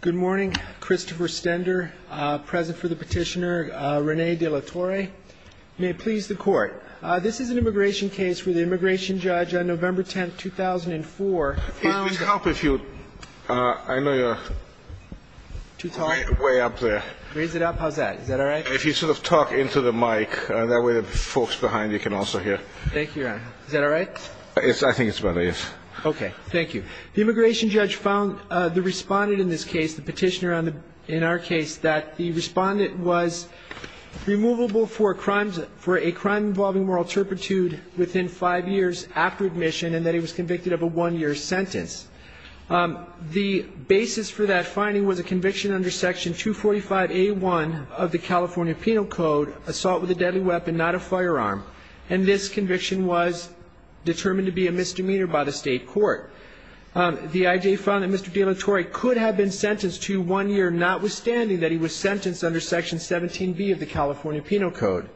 Good morning. Christopher Stender, present for the petitioner, Rene De La Torre. May it please the Court. This is an immigration case where the immigration judge on November 10th, 2004 found- It would help if you- I know you're- Too tall? Way up there. Raise it up? How's that? Is that all right? If you sort of talk into the mic, that way the folks behind you can also hear. Thank you, Your Honor. Is that all right? I think it's about there, yes. Okay. Thank you. The immigration judge found the respondent in this case, the petitioner in our case, that the respondent was removable for a crime involving moral turpitude within five years after admission and that he was convicted of a one-year sentence. The basis for that finding was a conviction under Section 245A1 of the California Penal Code, assault with a deadly weapon, not a firearm, and this conviction was determined to be a misdemeanor by the State Court. The I.J. found that Mr. De La Torre could have been sentenced to one year notwithstanding that he was sentenced under Section 17B of the California Penal Code.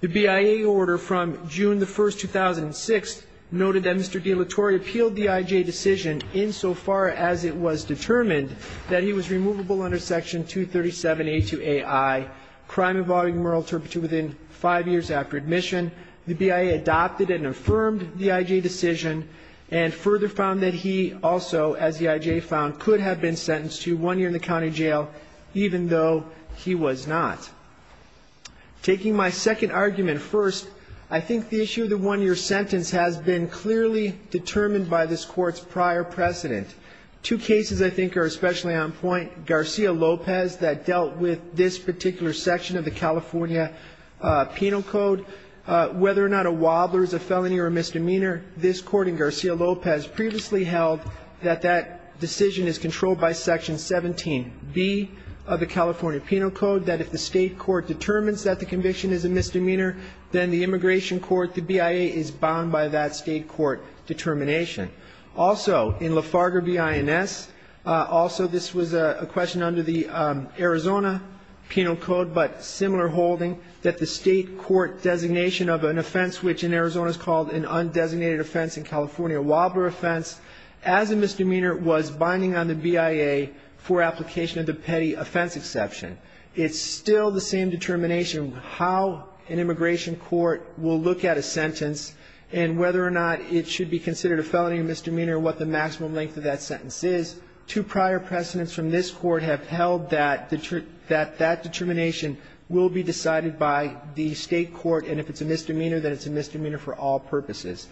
The BIA order from June the 1st, 2006 noted that Mr. De La Torre appealed the I.J. decision insofar as it was determined that he was removable under Section 237A2AI, crime involving moral turpitude within five years after admission. The BIA adopted and affirmed the I.J. decision and further found that he also, as the I.J. found, could have been sentenced to one year in the county jail even though he was not. Taking my second argument first, I think the issue of the one-year sentence has been clearly determined by this Court's prior precedent. Two cases I think are especially on point, Garcia Lopez that dealt with this particular section of the California Penal Code. Whether or not a wobbler is a felony or a misdemeanor, this Court in Garcia Lopez previously held that that decision is controlled by Section 17B of the California Penal Code, that if the State Court determines that the conviction is a misdemeanor, then the immigration court, the BIA, is bound by that State Court determination. Also in Lafarga v. INS, also this was a question under the Arizona Penal Code, but similar holding that the State Court designation of an offense, which in Arizona is called an undesignated offense, a California wobbler offense, as a misdemeanor, was binding on the BIA for application of the petty offense exception. It's still the same determination how an immigration court will look at a sentence and whether or not it should be considered a felony or misdemeanor, what the maximum length of that sentence is. Two prior precedents from this Court have held that that determination will be decided by the State Court, and if it's a misdemeanor, then it's a misdemeanor for all purposes.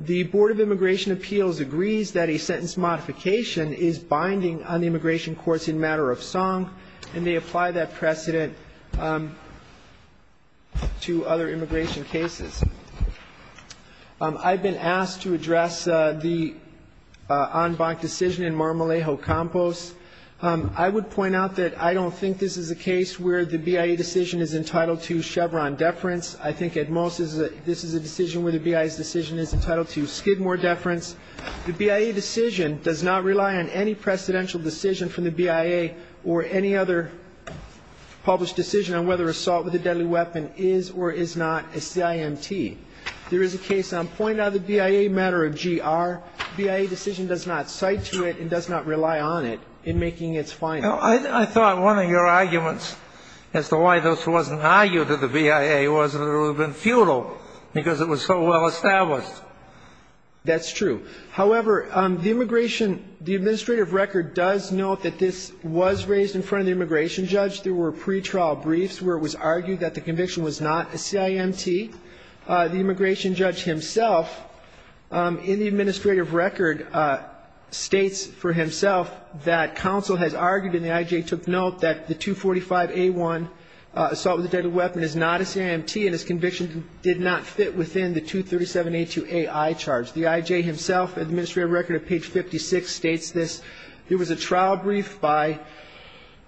The Board of Immigration Appeals agrees that a sentence modification is binding on the immigration courts in matter of song, and they apply that precedent to other immigration cases. I've been asked to address the Anbach decision in Marmolejo Campos. I would point out that I don't think this is a case where the BIA decision is entitled to Chevron deference. I think at most this is a decision where the BIA's decision is entitled to Skidmore deference. The BIA decision does not rely on any precedential decision from the BIA or any other published decision on whether assault with a deadly weapon is or is not a CIMT. There is a case on point of the BIA matter of GR. The BIA decision does not cite to it and does not rely on it in making its findings. Well, I thought one of your arguments as to why this wasn't argued to the BIA was that it would have been futile because it was so well established. That's true. However, the immigration – the administrative record does note that this was raised in front of the immigration judge. There were pretrial briefs where it was argued that the conviction was not a CIMT. The immigration judge himself, in the administrative record, states for himself that counsel has argued, and the IJ took note, that the 245A1, assault with a deadly weapon, is not a CIMT, and his conviction did not fit within the 237A2AI charge. The IJ himself, in the administrative record of page 56, states this. There was a trial brief by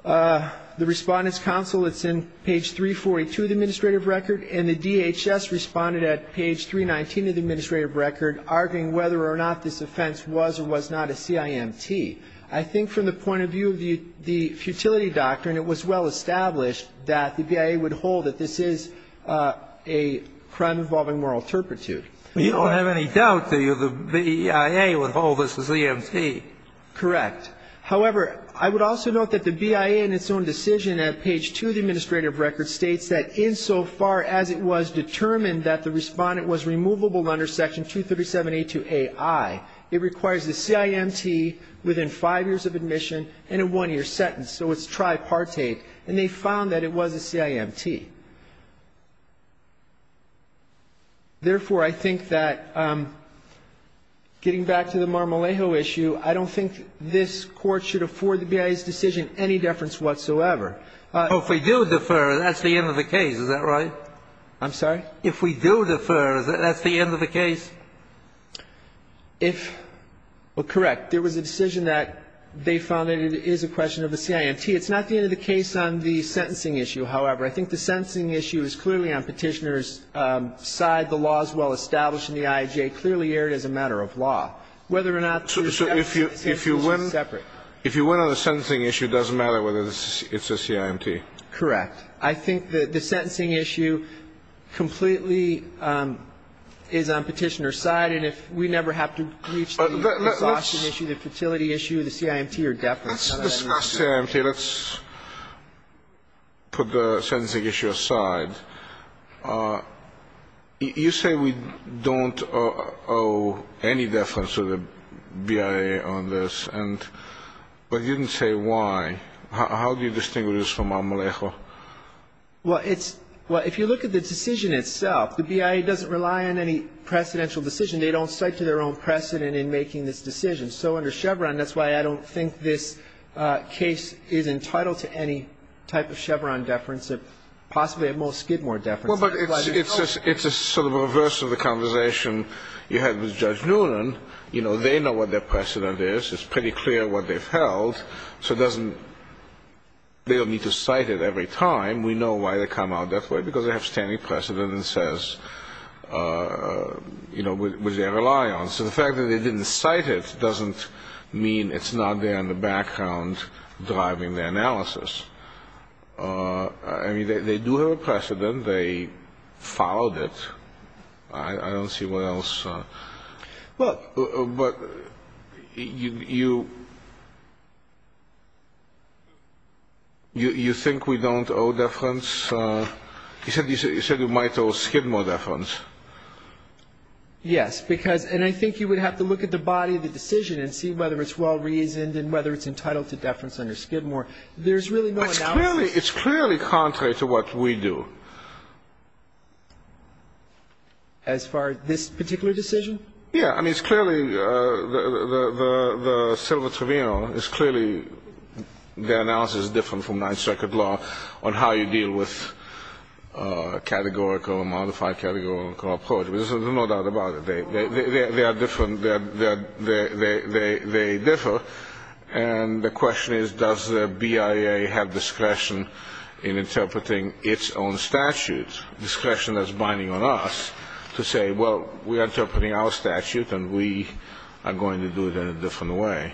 the Respondents' Counsel. It's in page 342 of the administrative record, and the DHS responded at page 319 of the administrative record, arguing whether or not this offense was or was not a CIMT. I think from the point of view of the – the futility doctrine, it was well established that the BIA would hold that this is a crime involving moral turpitude. You don't have any doubt, do you, that the BIA would hold this is a CIMT? Correct. However, I would also note that the BIA, in its own decision at page 2 of the administrative record, states that insofar as it was determined that the Respondent was removable under section 237A2AI, it requires the CIMT within five years of admission and a one-year sentence. So it's tripartite. And they found that it was a CIMT. Therefore, I think that getting back to the Marmolejo issue, I don't think this Court should afford the BIA's decision any deference whatsoever. If we do defer, that's the end of the case. Is that right? I'm sorry? If we do defer, that's the end of the case? If – well, correct. There was a decision that they found that it is a question of the CIMT. It's not the end of the case on the sentencing issue, however. I think the sentencing issue is clearly on Petitioner's side. The law is well established in the IAJ, clearly aired as a matter of law. Whether or not the sentencing issue is separate. So if you win on the sentencing issue, it doesn't matter whether it's a CIMT? Correct. I think the sentencing issue completely is on Petitioner's side. And if we never have to reach the exhaustion issue, the fertility issue, the CIMT Let's discuss the CIMT. Let's put the sentencing issue aside. You say we don't owe any deference to the BIA on this. But you didn't say why. How do you distinguish this from Amalejo? Well, it's – well, if you look at the decision itself, the BIA doesn't rely on any precedential decision. They don't cite to their own precedent in making this decision. So under Chevron, that's why I don't think this case is entitled to any type of Chevron deference. Possibly a Moles-Skidmore deference. Well, but it's a sort of reverse of the conversation you had with Judge Noonan. You know, they know what their precedent is. It's pretty clear what they've held. So it doesn't – they don't need to cite it every time. We know why they come out that way, because they have standing precedent that says – you know, with their reliance. And the fact that they didn't cite it doesn't mean it's not there in the background driving their analysis. I mean, they do have a precedent. They followed it. I don't see what else. But you think we don't owe deference? You said you might owe Skidmore deference. Yes, because – and I think you would have to look at the body of the decision and see whether it's well-reasoned and whether it's entitled to deference under Skidmore. There's really no analysis. It's clearly contrary to what we do. As far as this particular decision? Yeah. I mean, it's clearly – the Silva-Trevino is clearly – their analysis is different from But there's no doubt about it. They are different. They differ. And the question is, does the BIA have discretion in interpreting its own statute? Discretion that's binding on us to say, well, we are interpreting our statute, and we are going to do it in a different way.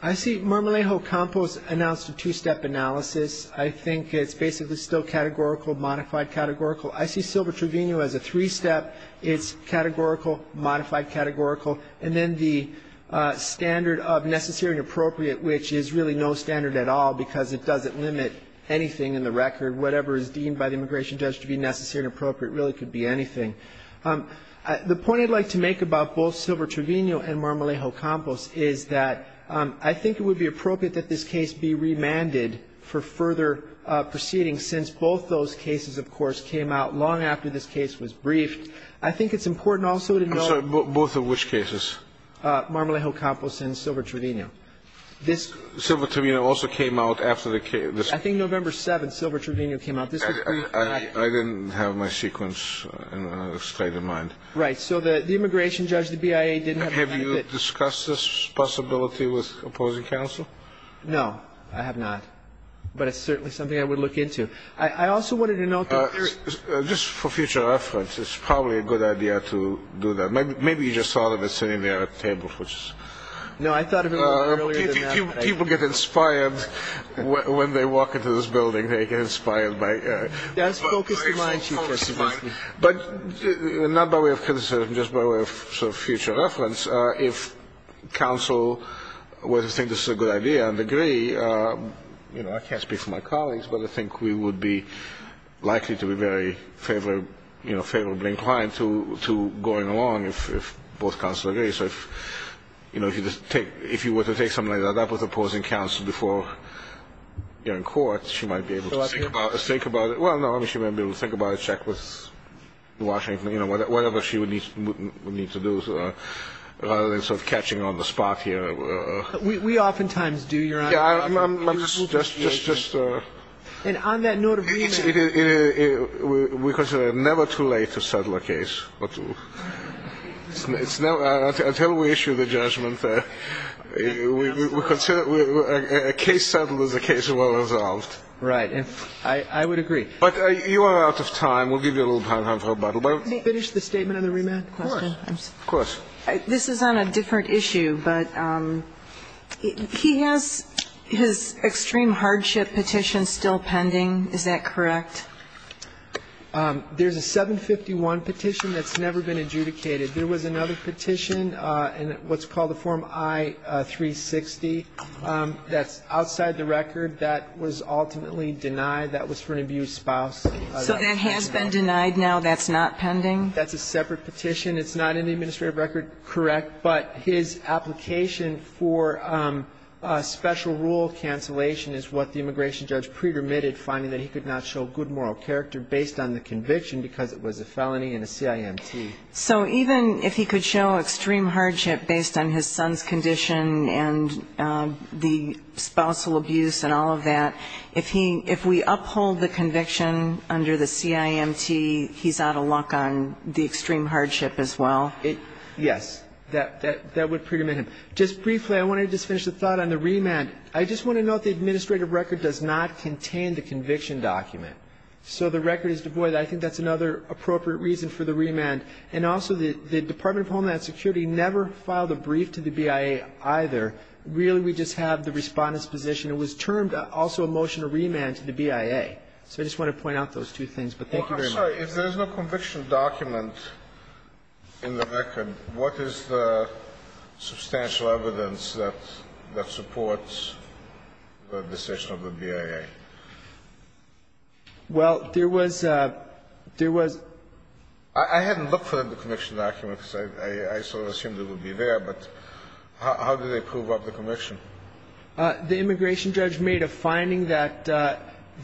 I see Marmolejo-Campos announced a two-step analysis. I think it's basically still categorical, modified categorical. I see Silva-Trevino as a three-step. It's categorical, modified categorical, and then the standard of necessary and appropriate, which is really no standard at all because it doesn't limit anything in the record. Whatever is deemed by the immigration judge to be necessary and appropriate really could be anything. The point I'd like to make about both Silva-Trevino and Marmolejo-Campos is that I think it would be appropriate that this case be remanded for further proceeding since both those cases, of course, came out long after this case was briefed. I think it's important also to note that Marmolejo-Campos and Silva-Trevino. Silva-Trevino also came out after the case. I think November 7th, Silva-Trevino came out. I didn't have my sequence straight in mind. Right. So the immigration judge, the BIA, didn't have the benefit. Have you discussed this possibility with opposing counsel? No, I have not. But it's certainly something I would look into. I also wanted to note that there is – Just for future reference, it's probably a good idea to do that. Maybe you just thought of it sitting there at the table. No, I thought of it a little earlier than that. People get inspired when they walk into this building. They get inspired by – That's a focused line, Chief Justice. But not by way of criticism, just by way of sort of future reference, if counsel were to think this is a good idea and agree, I can't speak for my colleagues, but I think we would be likely to be very favorably inclined to going along if both counsels agree. So if you were to take something like that up with opposing counsel before you're in court, she might be able to think about it. Well, no, I mean, she might be able to think about it, check with Washington, you know, whatever she would need to do rather than sort of catching on the spot here. We oftentimes do, Your Honor. I'm just – And on that note of remand – We consider it never too late to settle a case. Until we issue the judgment, we consider – a case settled is a case well resolved. Right. I would agree. But you are out of time. We'll give you a little time to have a rebuttal. May I finish the statement on the remand question? Of course. This is on a different issue, but he has his extreme hardship petition still pending. Is that correct? There's a 751 petition that's never been adjudicated. There was another petition in what's called the Form I-360 that's outside the record that was ultimately denied. That was for an abused spouse. So that has been denied now? That's not pending? That's a separate petition. It's not in the administrative record. Correct. But his application for special rule cancellation is what the immigration judge pre-permitted, finding that he could not show good moral character based on the conviction because it was a felony and a CIMT. So even if he could show extreme hardship based on his son's condition and the spousal abuse and all of that, if he – if we uphold the conviction under the CIMT, he's out of luck on the extreme hardship as well? Yes. That would pre-permit him. Just briefly, I wanted to just finish the thought on the remand. I just want to note the administrative record does not contain the conviction document. So the record is devoid. I think that's another appropriate reason for the remand. And also, the Department of Homeland Security never filed a brief to the BIA either. Really, we just have the Respondent's position. It was termed also a motion to remand to the BIA. So I just want to point out those two things. But thank you very much. Well, I'm sorry. If there's no conviction document in the record, what is the substantial evidence that supports the decision of the BIA? Well, there was – there was – I hadn't looked for the conviction document, because I sort of assumed it would be there. But how do they prove up the conviction? The immigration judge made a finding that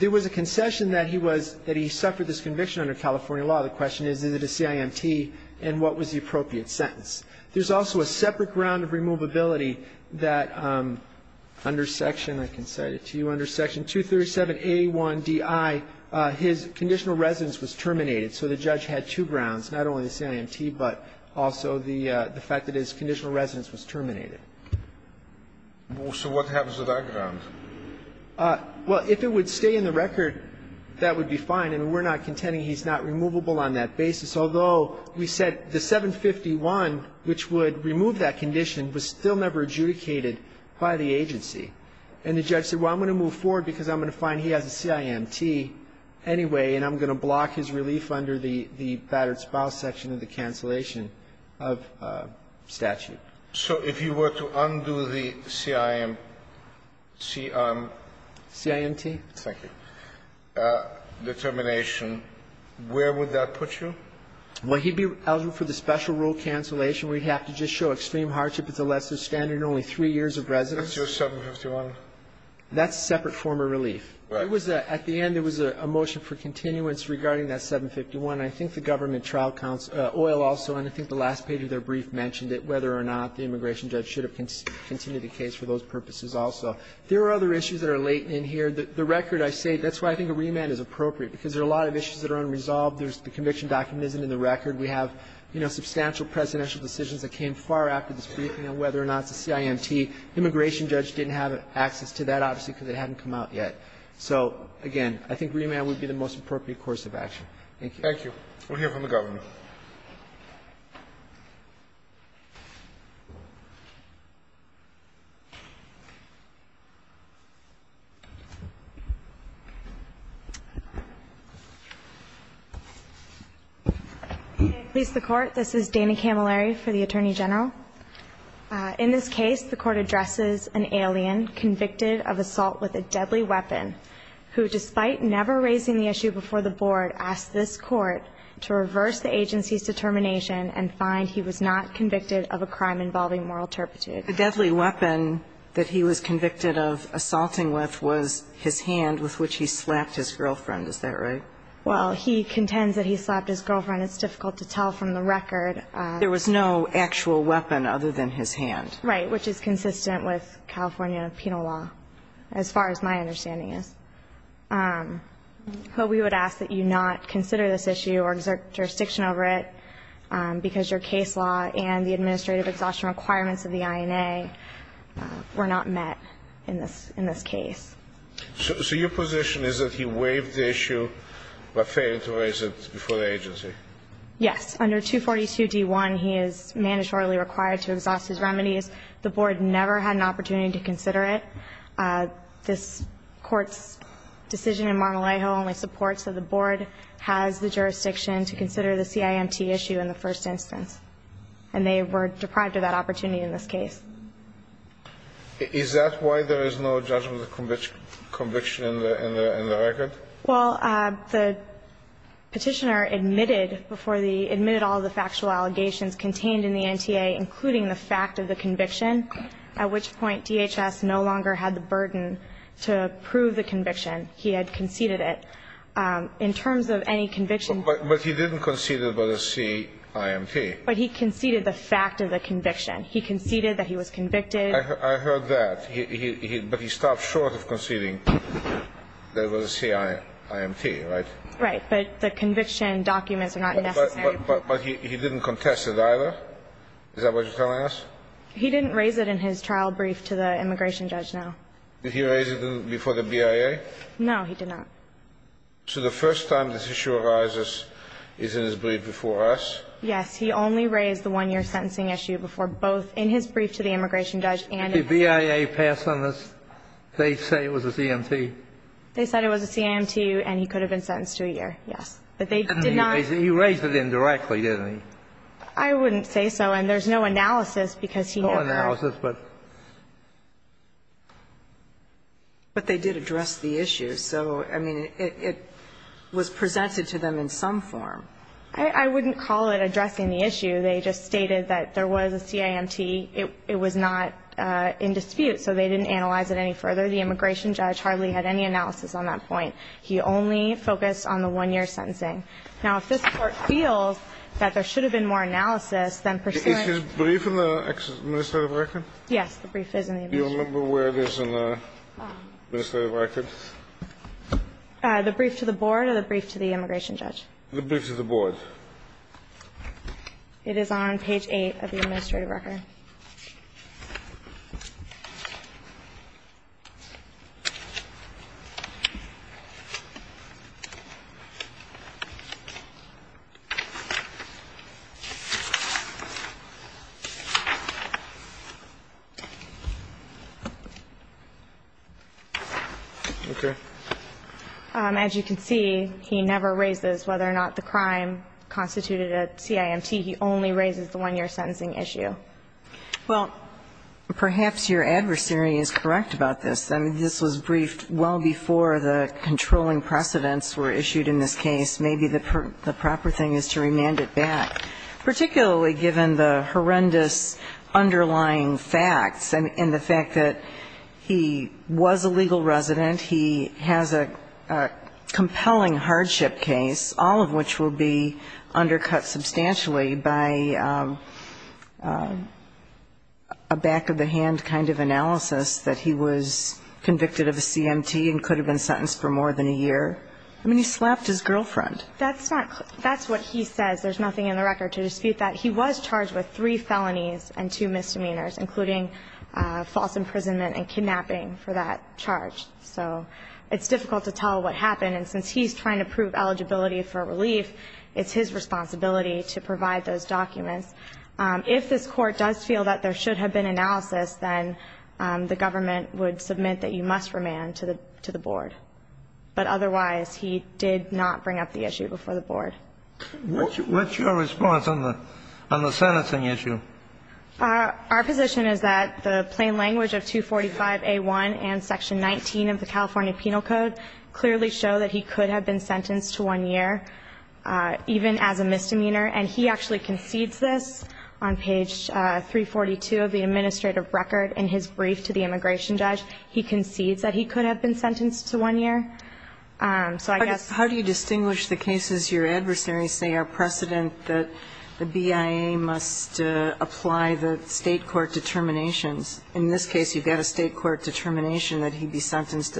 there was a concession that he was – that he suffered this conviction under California law. The question is, is it a CIMT, and what was the appropriate sentence? There's also a separate ground of removability that under section – I can cite it to you under section 237A1DI, his conditional residence was terminated. So the judge had two grounds, not only the CIMT, but also the fact that his conditional residence was terminated. So what happens to that ground? Well, if it would stay in the record, that would be fine. And we're not contending he's not removable on that basis, although we said the 751, which would remove that condition, was still never adjudicated by the agency. And the judge said, well, I'm going to move forward because I'm going to find he has a CIMT anyway, and I'm going to block his relief under the battered spouse section of the cancellation of statute. So if you were to undo the CIMT determination, where would that put you? Well, he'd be eligible for the special rule cancellation where he'd have to just show extreme hardship. It's a lesser standard, only three years of residence. That's your 751. That's a separate form of relief. Right. It was a – at the end, there was a motion for continuance regarding that 751. I think the government trial counsel – Oyl also, and I think the last page of their brief mentioned it, whether or not the immigration judge should have continued the case for those purposes also. There are other issues that are latent in here. The record, I say – that's why I think a remand is appropriate, because there are a lot of issues that are unresolved. There's – the conviction document isn't in the record. We have, you know, substantial presidential decisions that came far after this briefing on whether or not it's a CIMT. The immigration judge didn't have access to that, obviously, because it hadn't come out yet. So, again, I think remand would be the most appropriate course of action. Thank you. Thank you. We'll hear from the government. Please, the Court. This is Dana Camilleri for the Attorney General. In this case, the Court addresses an alien convicted of assault with a deadly weapon who, despite never raising the issue before the Board, asked this Court to reverse the agency's determination and find he was not convicted of a crime involving moral turpitude. The deadly weapon that he was convicted of assaulting with was his hand with which he slapped his girlfriend. Is that right? Well, he contends that he slapped his girlfriend. It's difficult to tell from the record. There was no actual weapon other than his hand. Right, which is consistent with California penal law, as far as my understanding But we would ask that you not consider this issue or exert jurisdiction over it, because your case law and the administrative exhaustion requirements of the INA were not met in this case. So your position is that he waived the issue but failed to raise it before the agency? Yes. Under 242D1, he is mandatorily required to exhaust his remedies. The Board never had an opportunity to consider it. This Court's decision in Mar-a-Lago only supports that the Board has the jurisdiction to consider the CIMT issue in the first instance. And they were deprived of that opportunity in this case. Is that why there is no judgment of conviction in the record? Well, the petitioner admitted all the factual allegations contained in the NTA, including the fact of the conviction, at which point DHS no longer had the burden to prove the conviction. He had conceded it. In terms of any conviction But he didn't concede it was a CIMT. But he conceded the fact of the conviction. He conceded that he was convicted. I heard that. But he stopped short of conceding that it was a CIMT, right? Right. But the conviction documents are not necessary. But he didn't contest it either? Is that what you're telling us? He didn't raise it in his trial brief to the immigration judge, no. Did he raise it before the BIA? No, he did not. So the first time this issue arises is in his brief before us? Yes. He only raised the one-year sentencing issue before both in his brief to the immigration judge and in his trial. Did the BIA pass on this? They say it was a CIMT. They said it was a CIMT, and he could have been sentenced to a year, yes. But they did not He raised it indirectly, didn't he? I wouldn't say so. And there's no analysis because he never No analysis, but they did address the issue. So, I mean, it was presented to them in some form. I wouldn't call it addressing the issue. They just stated that there was a CIMT. It was not in dispute, so they didn't analyze it any further. The immigration judge hardly had any analysis on that point. He only focused on the one-year sentencing. Now, if this Court feels that there should have been more analysis, then pursuing Is his brief in the administrative record? Yes, the brief is in the administrative record. Do you remember where it is in the administrative record? The brief to the board or the brief to the immigration judge? The brief to the board. It is on page 8 of the administrative record. As you can see, he never raises whether or not the crime constituted a CIMT. He only raises the one-year sentencing issue. Well, perhaps your adversary is correct about this. I mean, this was briefed well before the controlling precedents were issued in this case. Maybe the proper thing is to remand it back, particularly given the horrendous underlying facts and the fact that he was a legal resident, he has a compelling hardship case, all of which will be undercut substantially by a back-of-the-hand kind of analysis that he was convicted of a CIMT and could have been sentenced for more than a year. I mean, he slapped his girlfriend. That's not clear. That's what he says. There's nothing in the record to dispute that. He was charged with three felonies and two misdemeanors, including false imprisonment and kidnapping for that charge. So it's difficult to tell what happened. And since he's trying to prove eligibility for relief, it's his responsibility to provide those documents. If this Court does feel that there should have been analysis, then the government would submit that you must remand to the board. But otherwise, he did not bring up the issue before the board. What's your response on the sentencing issue? Our position is that the plain language of 245A1 and Section 19 of the California Penal Code clearly show that he could have been sentenced to one year, even as a misdemeanor. And he actually concedes this on page 342 of the administrative record in his brief to the immigration judge. He concedes that he could have been sentenced to one year. So I guess ---- How do you distinguish the cases your adversaries say are precedent that the BIA must apply the State court determinations? In this case, you've got a State court determination that he'd be sentenced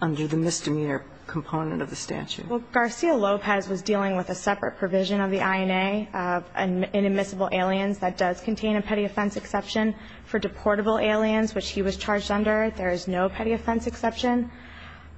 under the misdemeanor component of the statute. Well, Garcia-Lopez was dealing with a separate provision of the INA of inadmissible aliens that does contain a petty offense exception for deportable aliens, which he was charged under. There is no petty offense exception.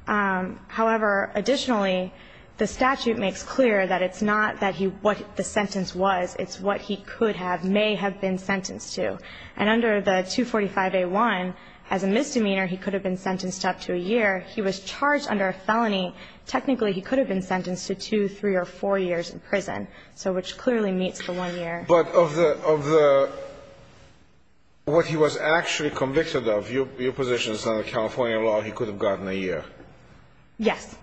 However, additionally, the statute makes clear that it's not that he ---- what the sentence was. It's what he could have, may have been sentenced to. And under the 245A1, as a misdemeanor, he could have been sentenced up to a year. He was charged under a felony. Technically, he could have been sentenced to two, three, or four years in prison, so which clearly meets the one year. But of the ---- what he was actually convicted of, your position is under California law, he could have gotten a year. Yes.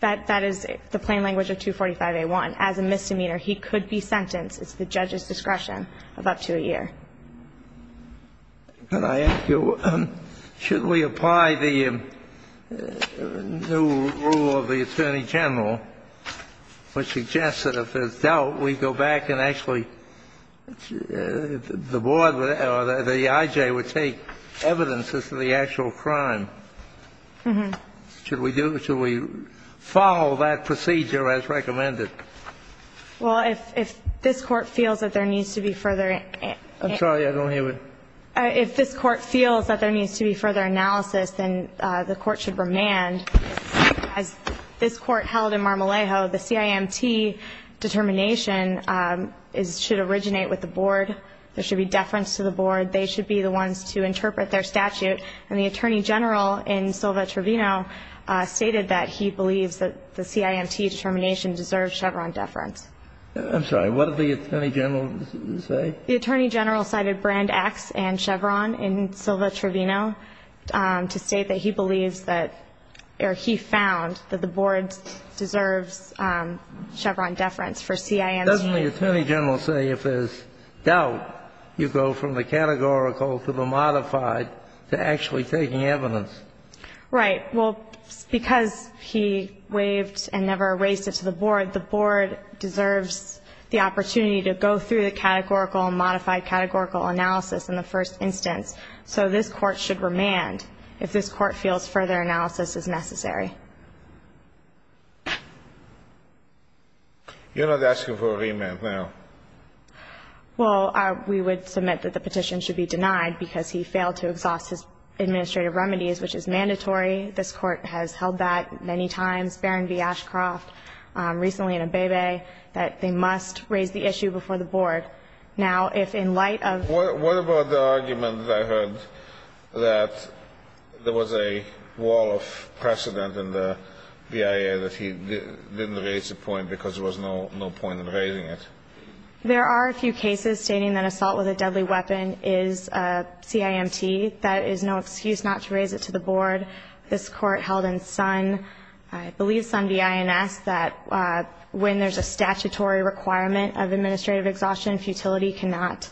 That is the plain language of 245A1. As a misdemeanor, he could be sentenced. It's the judge's discretion of up to a year. Can I ask you, should we apply the new rule of the Attorney General which suggests that if it's dealt, we go back and actually the board or the I.J. would take evidence as to the actual crime? Mm-hmm. Should we do ---- should we follow that procedure as recommended? Well, if this Court feels that there needs to be further ---- I'm sorry. I don't hear what ---- If this Court feels that there needs to be further analysis, then the Court should remand. As this Court held in Marmolejo, the CIMT determination is ---- should originate with the board. There should be deference to the board. They should be the ones to interpret their statute. And the Attorney General in Silva-Trevino stated that he believes that the CIMT determination deserves Chevron deference. I'm sorry. What did the Attorney General say? The Attorney General cited Brand X and Chevron in Silva-Trevino to state that he believes that or he found that the board deserves Chevron deference for CIMT. Doesn't the Attorney General say if there's doubt, you go from the categorical to the modified to actually taking evidence? Right. Well, because he waived and never raised it to the board, the board deserves the opportunity to go through the categorical and modified categorical analysis in the first instance. So this Court should remand if this Court feels further analysis is necessary. You're not asking for a remand now. Well, we would submit that the petition should be denied because he failed to exhaust his administrative remedies, which is mandatory. This Court has held that many times, Barron v. Ashcroft, recently in Abebe, that they must raise the issue before the board. Now, if in light of... What about the argument that I heard that there was a wall of precedent in the BIA that he didn't raise the point because there was no point in raising it? There are a few cases stating that assault with a deadly weapon is CIMT. That is no excuse not to raise it to the board. This Court held in Sun, I believe Sun v. INS, that when there's a statutory requirement of administrative exhaustion, futility cannot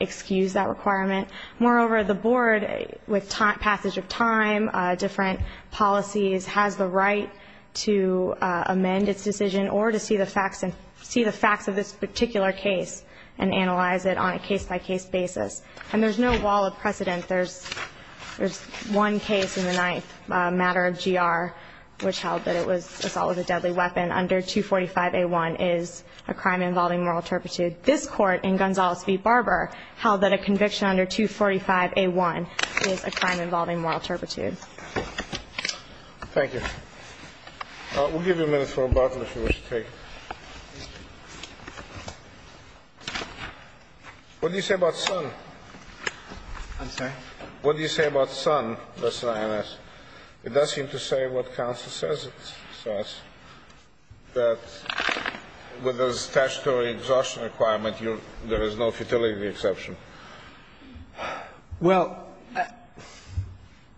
excuse that requirement. Moreover, the board, with passage of time, different policies, has the right to amend its decision or to see the facts of this particular case and analyze it on a case-by-case basis. And there's no wall of precedent. There's one case in the ninth matter of GR, which held that it was assault with a deadly weapon under 245A1 is a crime involving moral turpitude. This Court in Gonzales v. Barber held that a conviction under 245A1 is a crime involving moral turpitude. Thank you. We'll give you a minute for rebuttal, if you wish to take it. What do you say about Sun? I'm sorry? What do you say about Sun v. INS? It does seem to say what counsel says it says, that with a statutory exhaustion requirement, there is no futility exception. Well, I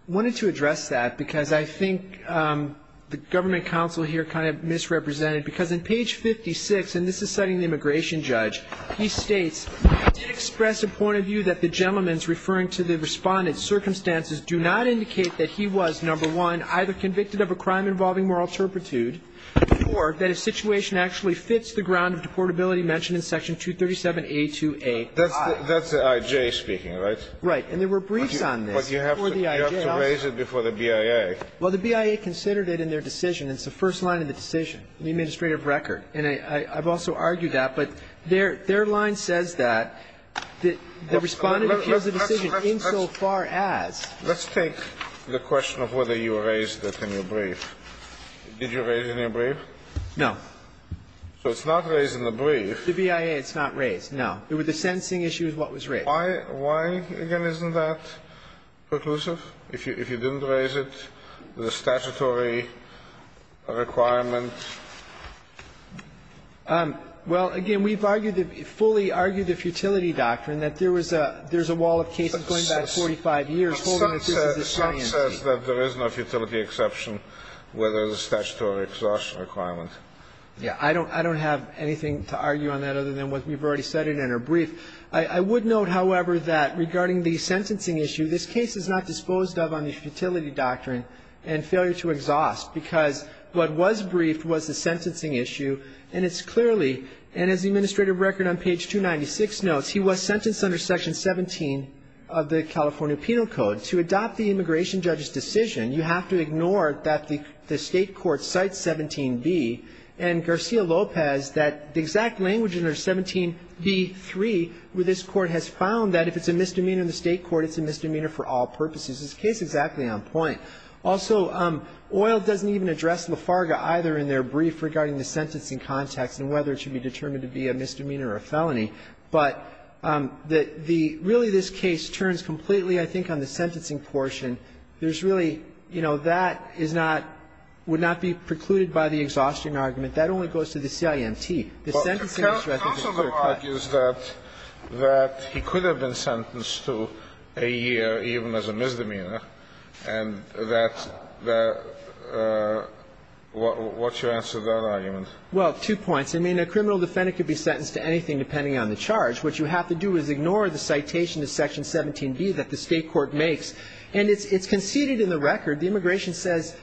wanted to address that because I think the government counsel here kind of misrepresented, because in page 56, and this is citing the immigration judge, he states, It did express a point of view that the gentleman's referring to the Respondent's circumstances do not indicate that he was, number one, either convicted of a crime involving moral turpitude or that his situation actually fits the ground of deportability mentioned in Section 237A2A. That's the I.J. speaking, right? Right. And there were briefs on this before the I.J. But you have to raise it before the BIA. Well, the BIA considered it in their decision. It's the first line of the decision in the administrative record. And I've also argued that. But their line says that the Respondent appeals the decision insofar as. Let's take the question of whether you raised it in your brief. Did you raise it in your brief? No. So it's not raised in the brief. The BIA, it's not raised, no. It was the sentencing issue is what was raised. Why, again, isn't that preclusive? If you didn't raise it, the statutory requirement. Well, again, we've argued that, fully argued the futility doctrine, that there was a wall of cases going back 45 years. Some says that there is no futility exception whether the statutory exhaustion requirement. I don't have anything to argue on that other than what we've already said in our brief. I would note, however, that regarding the sentencing issue, this case is not disposed of on the futility doctrine and failure to exhaust. Because what was briefed was the sentencing issue. And it's clearly, and as the administrative record on page 296 notes, he was sentenced under section 17 of the California Penal Code. To adopt the immigration judge's decision, you have to ignore that the state court cites 17B. And Garcia-Lopez, that the exact language under 17B.3 where this court has found that if it's a misdemeanor in the state court, it's a misdemeanor for all purposes. This case is exactly on point. Also, Oyl doesn't even address Lafarga either in their brief regarding the sentencing context and whether it should be determined to be a misdemeanor or a felony. But really this case turns completely, I think, on the sentencing portion. And there's really, you know, that is not, would not be precluded by the exhaustion argument. That only goes to the CIMT. The sentencing record is clear-cut. The counsel argues that he could have been sentenced to a year even as a misdemeanor and that the, what's your answer to that argument? Well, two points. I mean, a criminal defendant could be sentenced to anything depending on the charge. What you have to do is ignore the citation to section 17B that the state court makes. And it's conceded in the record. The immigration says,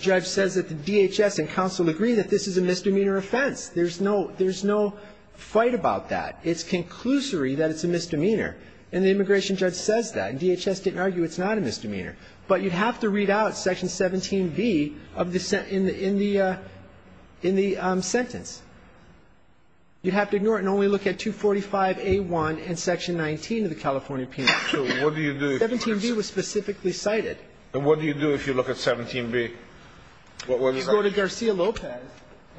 judge says that the DHS and counsel agree that this is a misdemeanor offense. There's no fight about that. It's conclusory that it's a misdemeanor. And the immigration judge says that. And DHS didn't argue it's not a misdemeanor. But you'd have to read out section 17B in the sentence. You'd have to ignore it and only look at 245A1 and section 19 of the California Penal Code. So what do you do? 17B was specifically cited. And what do you do if you look at 17B? You go to Garcia-Lopez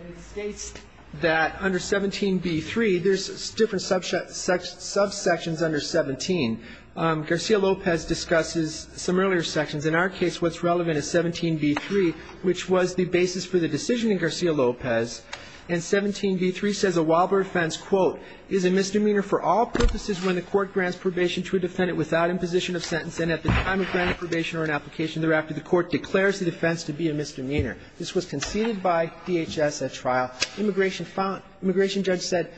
and it states that under 17B3, there's different subsections under 17. Garcia-Lopez discusses some earlier sections. In our case, what's relevant is 17B3, which was the basis for the decision in Garcia-Lopez. And 17B3 says a wobbler offense, quote, is a misdemeanor for all purposes when the defendant is not in position of sentence and at the time of granting probation or an application thereafter, the court declares the offense to be a misdemeanor. This was conceded by DHS at trial. Immigration judge said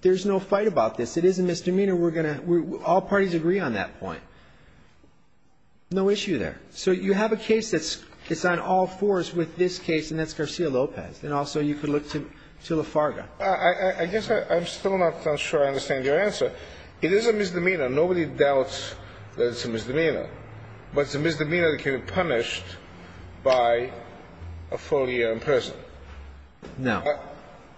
there's no fight about this. It is a misdemeanor. We're going to ‑‑ all parties agree on that point. No issue there. So you have a case that's on all fours with this case, and that's Garcia-Lopez. And also you could look to Lafarga. I guess I'm still not sure I understand your answer. It is a misdemeanor. Nobody doubts that it's a misdemeanor. But it's a misdemeanor that can be punished by a full year in prison. No.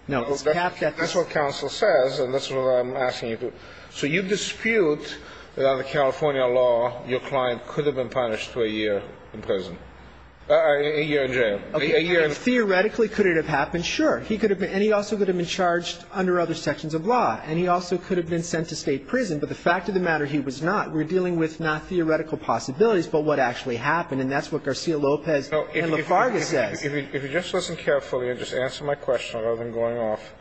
No. That's what counsel says, and that's what I'm asking you to. So you dispute that under California law, your client could have been punished for a year in prison ‑‑ a year in jail. Okay. Theoretically, could it have happened? Sure. He could have been ‑‑ and he also could have been charged under other sections of law, and he also could have been sent to state prison. But the fact of the matter, he was not. We're dealing with not theoretical possibilities, but what actually happened. And that's what Garcia-Lopez and Lafarga says. If you just listen carefully and just answer my question rather than going off,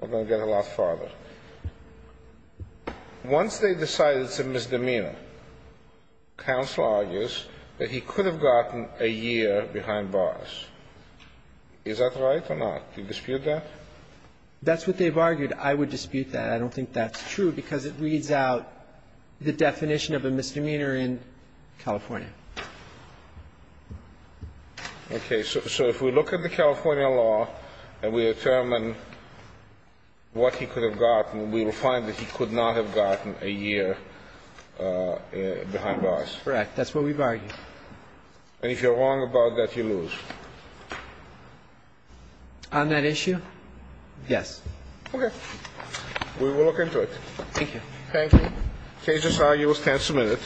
we're going to get a lot farther. Once they decide it's a misdemeanor, counsel argues that he could have gotten a year behind bars. Is that right or not? Do you dispute that? That's what they've argued. I would dispute that. I don't think that's true, because it reads out the definition of a misdemeanor in California. Okay. So if we look at the California law and we determine what he could have gotten, we will find that he could not have gotten a year behind bars. Correct. That's what we've argued. And if you're wrong about that, you lose. On that issue, yes. Okay. We will look into it. Thank you. Thank you. Case is argued. We'll stand submitted.